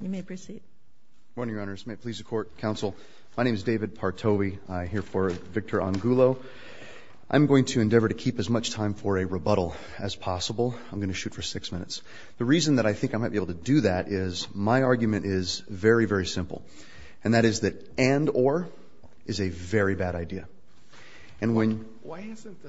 You may proceed. Morning, Your Honors. May it please the court, counsel, my name is David Partowi. I here for Victor Angulo. I'm going to endeavor to keep as much time for a rebuttal as possible. I'm gonna shoot for six minutes. The reason that I think I might be able to do that is my argument is very, very simple, and that is that and or is a very bad idea. And when... Why isn't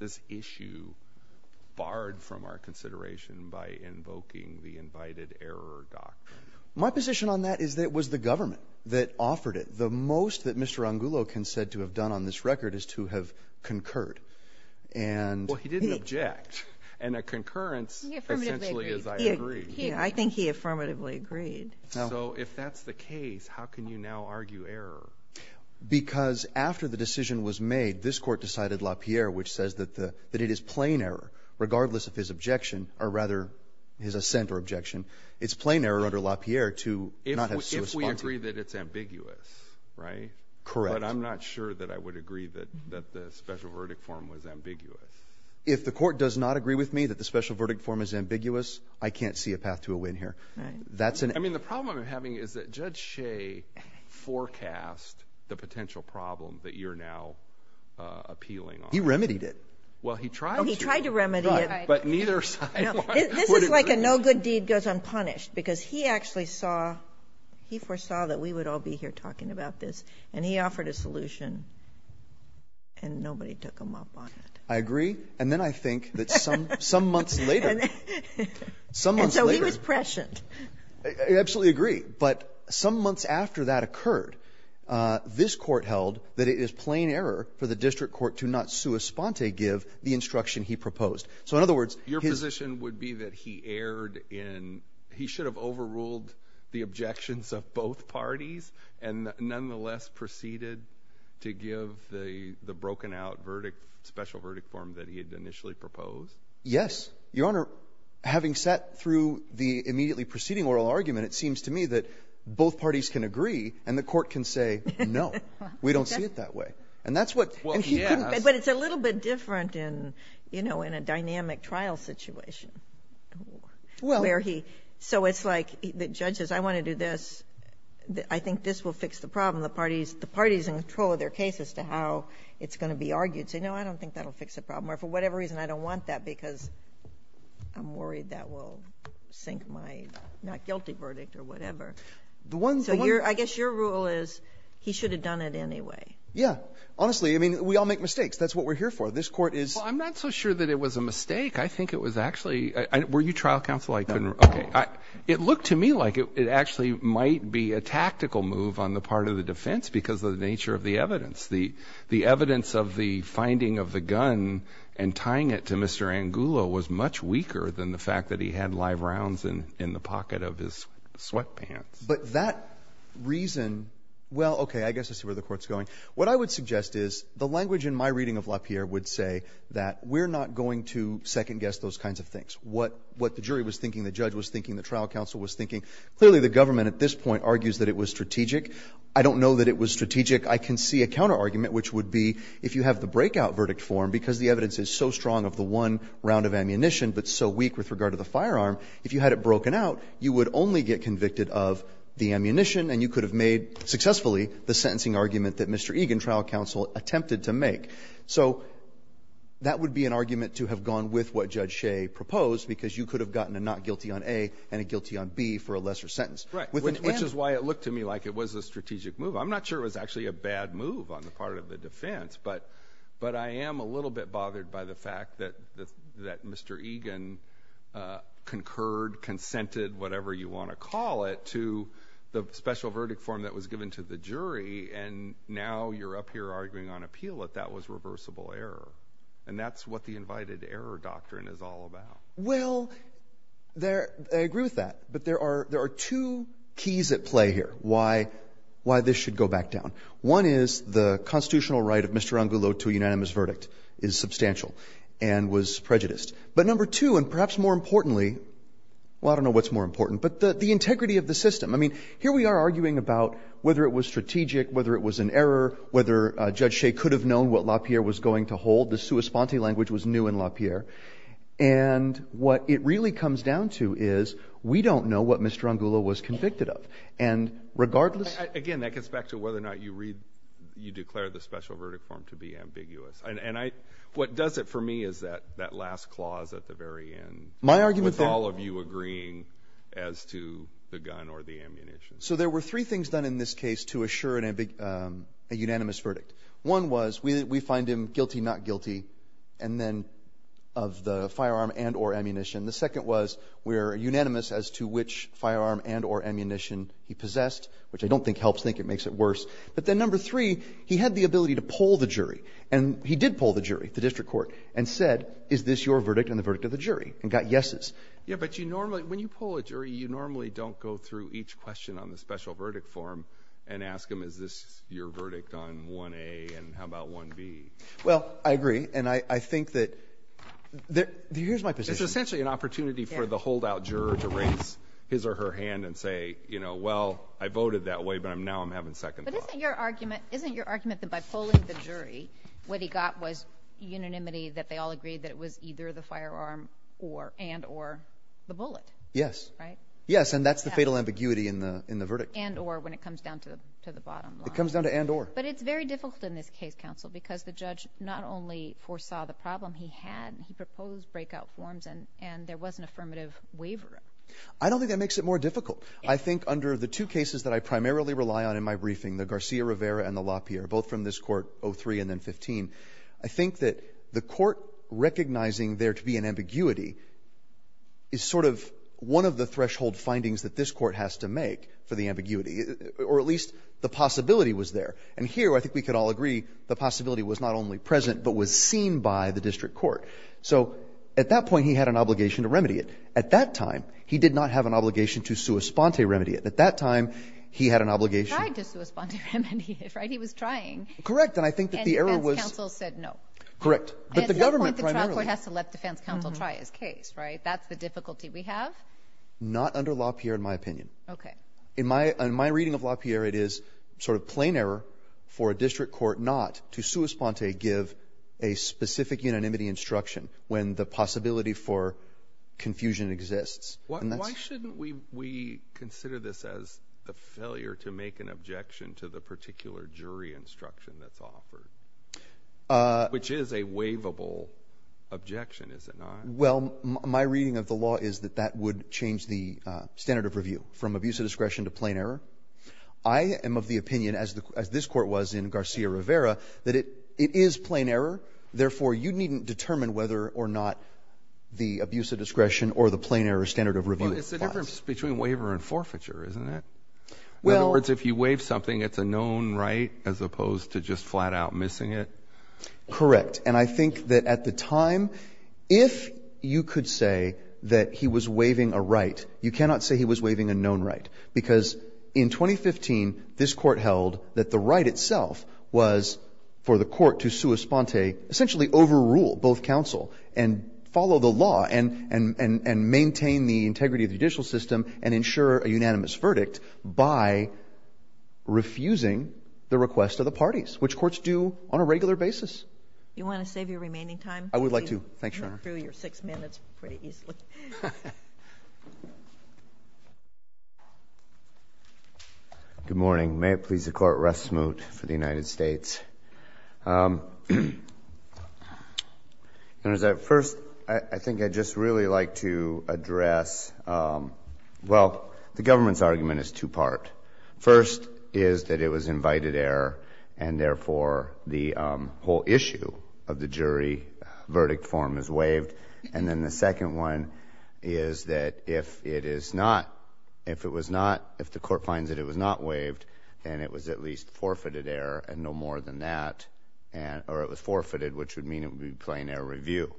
this issue barred from our consideration by invoking the invited error doctrine? My position on that is that it was the government that offered it. The most that Mr. Angulo can said to have done on this record is to have concurred. And... Well, he didn't object. And a concurrence essentially is I agree. Yeah, I think he affirmatively agreed. So if that's the case, how can you now argue error? Because after the decision was made, this court decided LaPierre, which says that the that it is plain error, regardless of his objection, or rather his assent or objection, it's plain error under LaPierre to not have... If we agree that it's ambiguous, right? Correct. But I'm not sure that I would agree that that the special verdict form was ambiguous. If the court does not agree with me that the special verdict form is ambiguous, I can't see a path to a win here. That's an... I mean, the problem I'm having is that Judge Shea forecast the appealing. He remedied it. Well, he tried. He tried to remedy it. But neither side... This is like a no good deed goes unpunished because he actually saw, he foresaw that we would all be here talking about this. And he offered a solution. And nobody took him up on it. I agree. And then I think that some some months later, some months later... And so he was prescient. I absolutely agree. But some months after that Your position would be that he erred in... He should have overruled the objections of both parties and nonetheless proceeded to give the broken-out verdict, special verdict form that he had initially proposed? Yes, Your Honor. Having sat through the immediately preceding oral argument, it seems to me that both parties can agree and the court can say no. We don't see it that way. And that's what... But it's a little bit different in, you know, in a dynamic trial situation. Where he... So it's like the judge says, I want to do this. I think this will fix the problem. The parties, the parties in control of their case as to how it's going to be argued say, no, I don't think that'll fix the problem. Or for whatever reason, I don't want that because I'm worried that will sink my not guilty verdict or whatever. So I guess your rule is he should have done it anyway. Yeah. Honestly, I mean, we all make mistakes. That's what we're here for. This court is... I'm not so sure that it was a mistake. I think it was actually... Were you trial counsel? Okay. It looked to me like it actually might be a tactical move on the part of the defense because of the nature of the evidence. The evidence of the finding of the gun and tying it to Mr. Angulo was much weaker than the fact that he had live rounds in the pocket of his sweatpants. But that reason... Well, okay. I guess I see where the court's going. What I would suggest is the language in my reading of LaPierre would say that we're not going to second guess those kinds of things. What the jury was thinking, the judge was thinking, the trial counsel was thinking. Clearly, the government at this point argues that it was strategic. I don't know that it was strategic. I can see a counter argument, which would be if you have the breakout verdict form because the evidence is so strong of the one round of ammunition but so weak with regard to the firearm, if you had it broken out, you would only get convicted of the ammunition and you could have made, successfully, the sentencing argument that Mr. Egan, trial counsel, attempted to make. So that would be an argument to have gone with what Judge Shea proposed because you could have gotten a not guilty on A and a guilty on B for a lesser sentence. Right. Which is why it looked to me like it was a strategic move. I'm not sure it was actually a bad move on the part of the defense, but I am a little bit bothered by the fact that Mr. Egan concurred, consented, whatever you want to call it, to the special verdict form that was given to the jury and now you're up here arguing on appeal that that was reversible error. And that's what the invited error doctrine is all about. Well, I agree with that, but there are two keys at play here why this should go back down. One is the integrity of the system. I mean, here we are arguing about whether it was strategic, whether it was an error, whether Judge Shea could have known what LaPierre was going to hold. The sua sponte language was new in LaPierre. And what it really comes down to is, we don't know what Mr. Angulo was convicted of. And regardless... Again, that gets back to whether or not you read, you declared the And what does it for me is that last clause at the very end. With all of you agreeing as to the gun or the ammunition. So there were three things done in this case to assure a unanimous verdict. One was, we find him guilty, not guilty, and then of the firearm and or ammunition. The second was, we're unanimous as to which firearm and or ammunition he possessed, which I don't think helps, I don't think it makes it worse. But then number three, he had the ability to pull the jury. And he did pull the jury, the district court, and said, is this your verdict and the verdict of the jury? And got yeses. Yeah, but you normally, when you pull a jury, you normally don't go through each question on the special verdict form and ask them, is this your verdict on 1A and how about 1B? Well, I agree. And I think that... Here's my position. It's essentially an opportunity for the holdout juror to raise his or her hand and say, you know, well, I voted that way, but now I'm having second thoughts. But isn't your argument that by pulling the jury, what he got was unanimity that they all agreed that it was either the firearm and or the bullet? Yes. Right? Yes, and that's the fatal ambiguity in the verdict. And or when it comes down to the bottom line. It comes down to and or. But it's very difficult in this case, counsel, because the judge not only foresaw the problem he had, he proposed breakout forms and there was an affirmative waiver. I don't think that makes it more difficult. I think under the two cases that I primarily rely on in my briefing, the Garcia-Rivera and the LaPierre, both from this Court 03 and then 15, I think that the Court recognizing there to be an ambiguity is sort of one of the threshold findings that this Court has to make for the ambiguity, or at least the possibility was there. And here I think we could all agree the possibility was not only present but was seen by the district court. So at that point he had an obligation to remedy it. At that time, he did not have an obligation to sua sponte remedy it. At that time, he had an obligation. He tried to sua sponte remedy it, right? He was trying. Correct. And I think that the error was. And defense counsel said no. Correct. But the government primarily. At that point, the trial court has to let defense counsel try his case, right? That's the difficulty we have. Not under LaPierre, in my opinion. Okay. In my reading of LaPierre, it is sort of plain error for a district court not to sua sponte give a specific unanimity instruction when the possibility for confusion exists. And that's. Why shouldn't we consider this as a failure to make an objection to the particular jury instruction that's offered? Which is a waivable objection, is it not? Well, my reading of the law is that that would change the standard of review from abuse of discretion to plain error. I am of the opinion, as this Court was in Garcia-Rivera, that it is plain error. Therefore, you needn't determine whether or not the abuse of discretion or the plain error standard of review applies. But it's the difference between waiver and forfeiture, isn't it? Well. In other words, if you waive something, it's a known right as opposed to just flat-out missing it? Correct. And I think that at the time, if you could say that he was waiving a right, you cannot say he was waiving a known right, because in 2015, this Court held that the right itself was for the Court to sua sponte, essentially overrule both counsel, and follow the law, and maintain the integrity of the judicial system, and ensure a unanimous verdict by refusing the request of the parties, which courts do on a regular basis. Do you want to save your remaining time? I would like to. Thanks, Your Honor. You went through your six minutes pretty easily. Good morning. May it please the Court, rest smooth for the United States. First, I think I'd just really like to address, well, the government's argument is two-part. First is that it was invited error, and therefore, the whole issue of the is that if it is not, if it was not, if the Court finds that it was not waived, then it was at least forfeited error, and no more than that, or it was forfeited, which would mean it would be plain error review.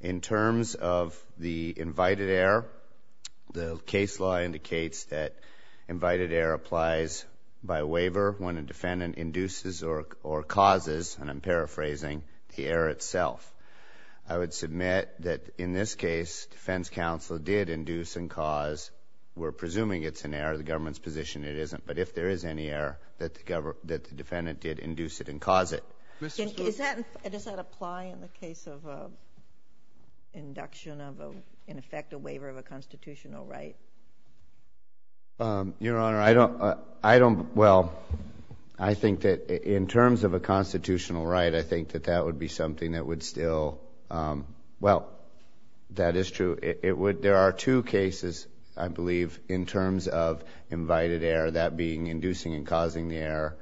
In terms of the invited error, the case law indicates that invited error applies by waiver when a defendant induces or causes, and I'm paraphrasing, the error itself. I would submit that in this case, defense counsel did induce and cause. We're presuming it's an error. The government's position, it isn't. But if there is any error, that the defendant did induce it and cause it. Mr. Spitzley? Does that apply in the case of induction of, in effect, a waiver of a constitutional right? Your Honor, I don't, well, I think that in terms of a constitutional right, I think that that would be something that would still, well, that is true. It would, there are two cases, I believe, in terms of invited error, that being inducing and causing the error,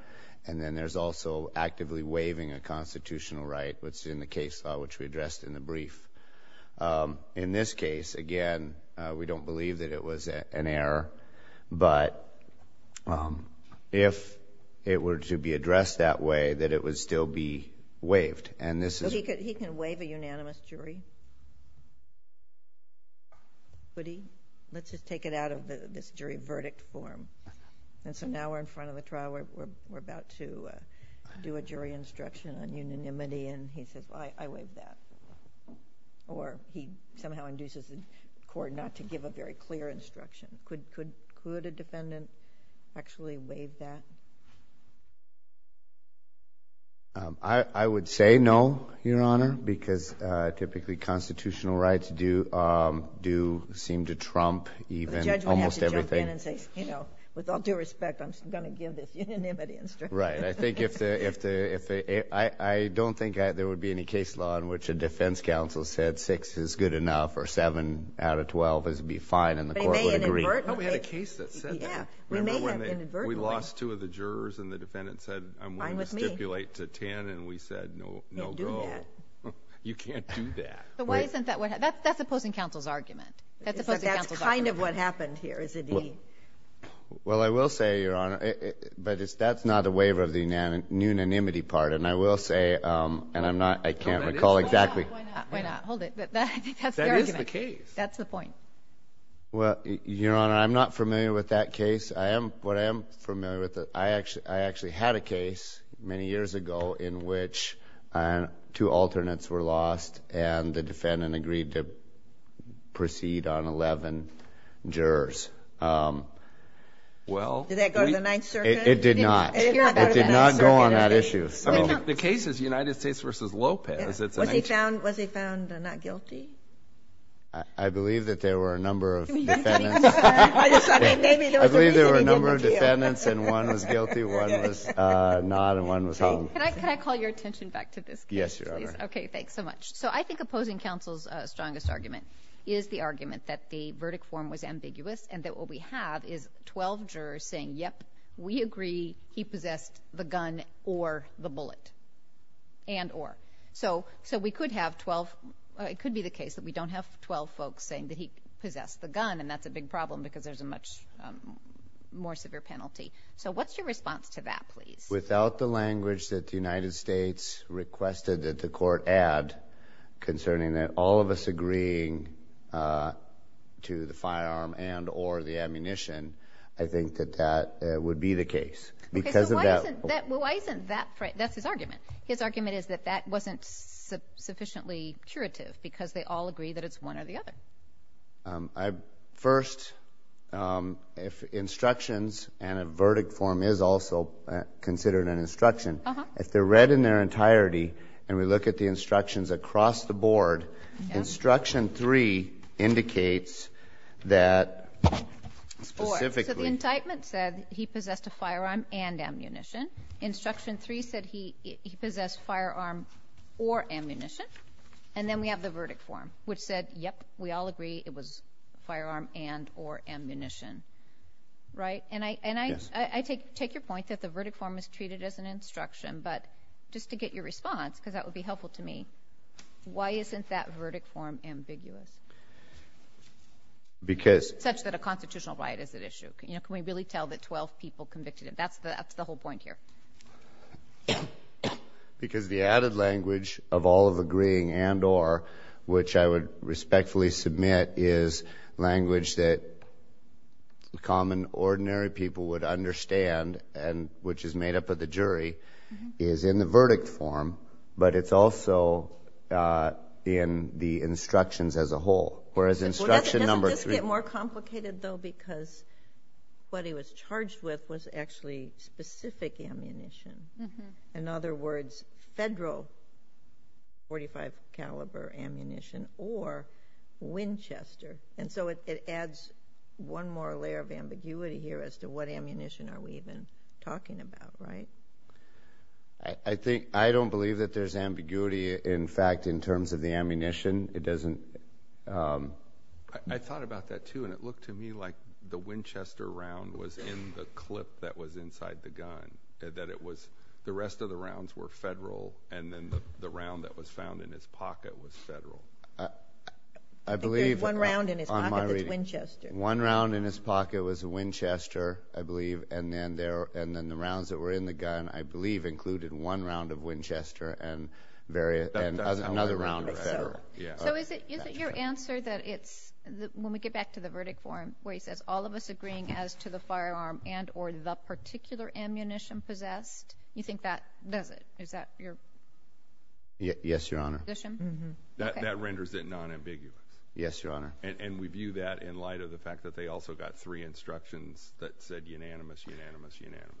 and then there's also actively waiving a constitutional right, which is in the case law, which we addressed in the brief. In this case, again, we don't believe that it was an error, but if it were to be addressed that way, that it would still be waived. He can waive a unanimous jury? Would he? Let's just take it out of this jury verdict form. So now we're in front of the trial, we're about to do a jury instruction on unanimity, and he says, I waive that. Or he somehow induces the court not to give a very clear instruction. Could a defendant actually waive that? I would say no, Your Honor, because typically constitutional rights do seem to trump even almost everything. The judge would have to jump in and say, you know, with all due respect, I'm going to give this unanimity instruction. Right. I think if the, I don't think there would be any case law in which a defense counsel said 6 is good enough or 7 out of 12 would be fine and the court would agree. We may have inadvertently. We lost two of the jurors and the defendant said, I'm willing to stipulate to 10, and we said, no go. You can't do that. But why isn't that what happened? That's opposing counsel's argument. That's kind of what happened here, isn't he? Well I will say, Your Honor, but that's not a waiver of the unanimity part, and I will say, and I'm not, I can't recall exactly. Why not? Hold it. That's the argument. That is the case. That's the point. Well, Your Honor, I'm not familiar with that case. I am, what I am familiar with, I actually had a case many years ago in which two alternates were lost and the defendant agreed to proceed on 11 jurors. Did that go to the Ninth Circuit? It did not. It did not go on that issue. The case is United States v. Lopez. Was he found not guilty? I believe that there were a number of defendants, I believe there were a number of defendants and one was guilty, one was not, and one was hung. Can I call your attention back to this case? Yes, Your Honor. Okay, thanks so much. So I think opposing counsel's strongest argument is the argument that the verdict form was ambiguous and that what we have is 12 jurors saying, yep, we agree, he possessed the gun or the bullet and or. So we could have 12, it could be the case that we don't have 12 folks saying that he possessed the gun and that's a big problem because there's a much more severe penalty. So what's your response to that, please? Without the language that the United States requested that the court add concerning that all of us agreeing to the firearm and or the ammunition, I think that that would be the case. Okay, so why isn't that, that's his argument. His argument is that that wasn't sufficiently curative because they all agree that it's one or the other. First, if instructions and a verdict form is also considered an instruction, if they're read in their entirety and we look at the instructions across the board, instruction three indicates that specifically. So the indictment said he possessed a firearm and ammunition. Instruction three said he possessed firearm or ammunition and then we have the verdict form which said, yep, we all agree it was firearm and or ammunition, right? And I take your point that the verdict form is treated as an instruction but just to get your response because that would be helpful to me, why isn't that verdict form ambiguous? Because... Such that a constitutional right is at issue, you know, can we really tell that 12 people convicted him? That's the whole point here. Because the added language of all of agreeing and or which I would respectfully submit is language that common ordinary people would understand and which is made up of the jury is in the verdict form but it's also in the instructions as a whole whereas instruction number three... Doesn't this get more complicated though because what he was charged with was actually specific ammunition. In other words, federal .45 caliber ammunition or Winchester and so it adds one more layer of ambiguity here as to what ammunition are we even talking about, right? I think... I don't believe that there's ambiguity in fact in terms of the ammunition. It doesn't... I thought about that too and it looked to me like the Winchester round was in the clip that was inside the gun, that it was the rest of the rounds were federal and then the round that was found in his pocket was federal. I believe... There's one round in his pocket that's Winchester. One round in his pocket was a Winchester, I believe, and then the rounds that were in the gun, I believe, included one round of Winchester and another round of federal. So is it your answer that it's... When we get back to the verdict form where he says all of us agreeing as to the firearm and or the particular ammunition possessed, you think that does it? Is that your... Yes, Your Honor. ...position? Mm-hmm. Okay. That renders it non-ambiguous. Yes, Your Honor. And we view that in light of the fact that they also got three instructions that said unanimous, unanimous, unanimous.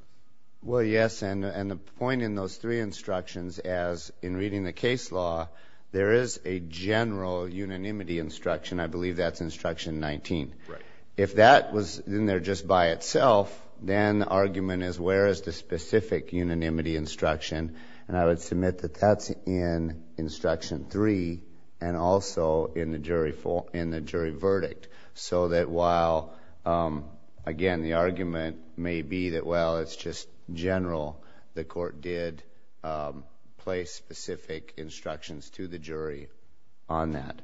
Well, yes. And the point in those three instructions as in reading the case law, there is a general unanimity instruction. I believe that's instruction 19. Right. If that was in there just by itself, then the argument is where is the specific unanimity instruction? And I would submit that that's in instruction three and also in the jury verdict. So that while, again, the argument may be that, well, it's just general. The court did place specific instructions to the jury on that.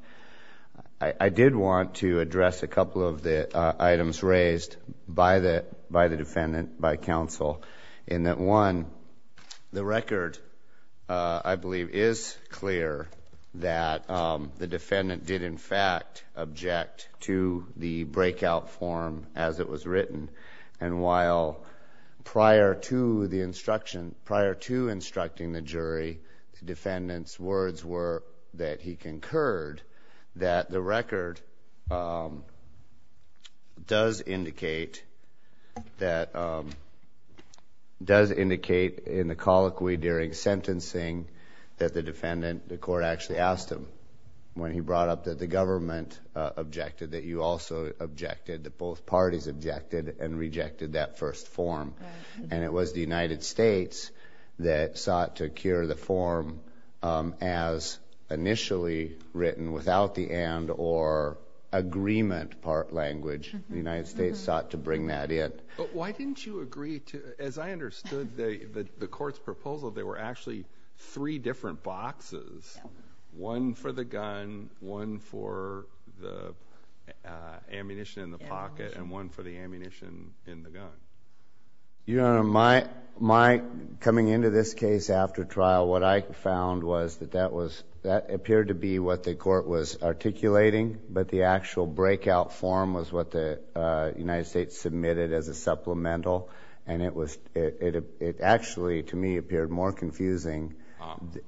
I did want to address a couple of the items raised by the defendant, by counsel, in that one, the record, I believe, is clear that the defendant did in fact object to the breakout form as it was written. And while prior to the instruction, prior to instructing the jury, the defendant's words were that he concurred that the record does indicate that, does indicate in the colloquy during sentencing that the defendant, the court actually asked him when he brought up that the government objected, that you also objected, that both parties objected and rejected that first form. And it was the United States that sought to cure the form as initially written without the and or agreement part language. The United States sought to bring that in. But why didn't you agree to, as I understood the court's proposal, there were actually three different boxes, one for the gun, one for the ammunition in the pocket, and one for the ammunition in the gun? Your Honor, my, coming into this case after trial, what I found was that that was, that appeared to be what the court was articulating, but the actual breakout form was what the United States submitted as a supplemental, and it was, it actually, to me, appeared more confusing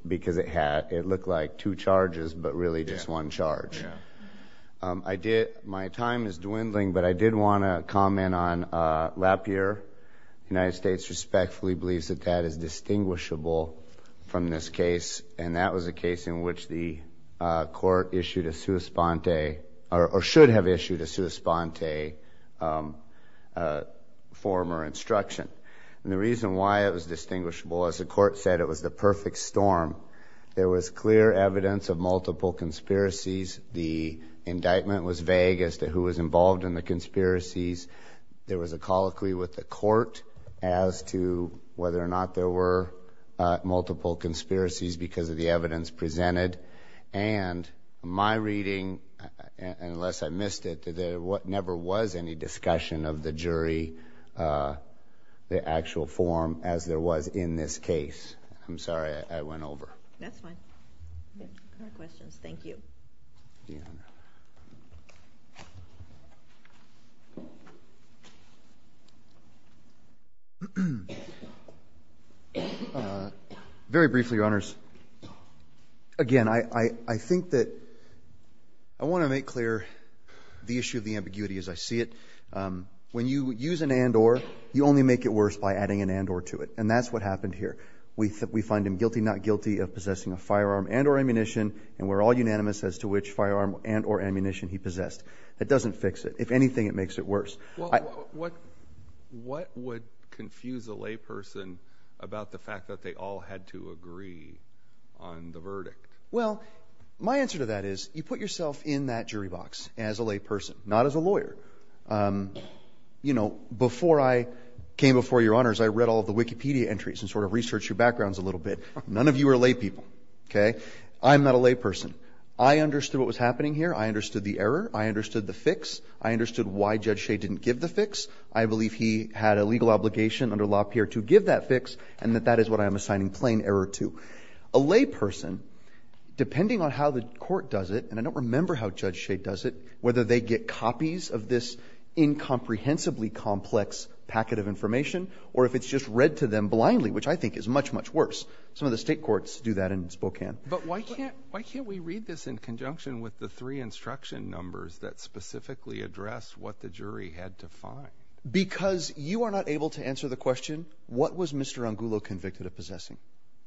because it had, it looked like two charges, but really just one charge. Yeah. I did, my time is dwindling, but I did want to comment on Lapierre, the United States respectfully believes that that is distinguishable from this case, and that was a case in which the court issued a sua sponte, or should have issued a sua sponte form or instruction. And the reason why it was distinguishable, as the court said, it was the perfect storm. There was clear evidence of multiple conspiracies. The indictment was vague as to who was involved in the conspiracies. There was a colloquy with the court as to whether or not there were multiple conspiracies because of the evidence presented, and my reading, unless I missed it, there never was any discussion of the jury, the actual form, as there was in this case. I'm sorry, I went over. That's fine. No questions. Thank you. Deanna. Very briefly, Your Honors, again, I think that I want to make clear the issue of the ambiguity as I see it. When you use an and or, you only make it worse by adding an and or to it, and that's what happened here. We find him guilty, not guilty of possessing a firearm and or ammunition, and we're all unanimous as to which firearm and or ammunition he possessed. That doesn't fix it. If anything, it makes it worse. What would confuse a layperson about the fact that they all had to agree on the verdict? Well, my answer to that is, you put yourself in that jury box as a layperson, not as a lawyer. So, you know, before I came before Your Honors, I read all of the Wikipedia entries and sort of researched your backgrounds a little bit. None of you are laypeople, okay? I'm not a layperson. I understood what was happening here. I understood the error. I understood the fix. I understood why Judge Shade didn't give the fix. I believe he had a legal obligation under Law Pier 2 to give that fix, and that that is what I am assigning plain error to. A layperson, depending on how the court does it, and I don't remember how Judge Shade does it, whether they get copies of this incomprehensibly complex packet of information or if it's just read to them blindly, which I think is much, much worse. Some of the state courts do that in Spokane. But why can't we read this in conjunction with the three instruction numbers that specifically address what the jury had to find? Because you are not able to answer the question, what was Mr. Angulo convicted of possessing?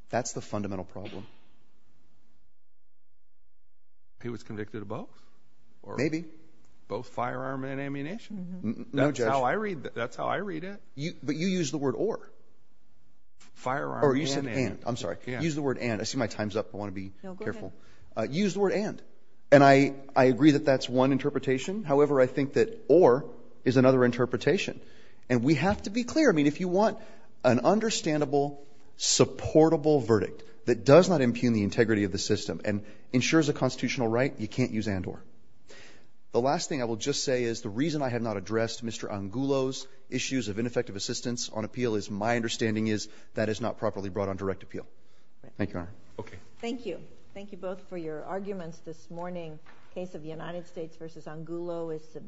That's the fundamental problem. He was convicted of both? Maybe. Both firearm and ammunition? No, Judge. That's how I read it. But you used the word or. Firearm and. Or you said and. I'm sorry. Use the word and. I see my time's up. I want to be careful. No, go ahead. Use the word and. And I agree that that's one interpretation. However, I think that or is another interpretation. And we have to be clear. I mean, if you want an understandable, supportable verdict that does not impugn the integrity of the system and ensures a constitutional right, you can't use and or. The last thing I will just say is the reason I have not addressed Mr. Angulo's issues of ineffective assistance on appeal is my understanding is that is not properly brought on direct appeal. Thank you, Your Honor. Okay. Thank you. Thank you both for your arguments this morning. The case of the United States v. Angulo is submitted.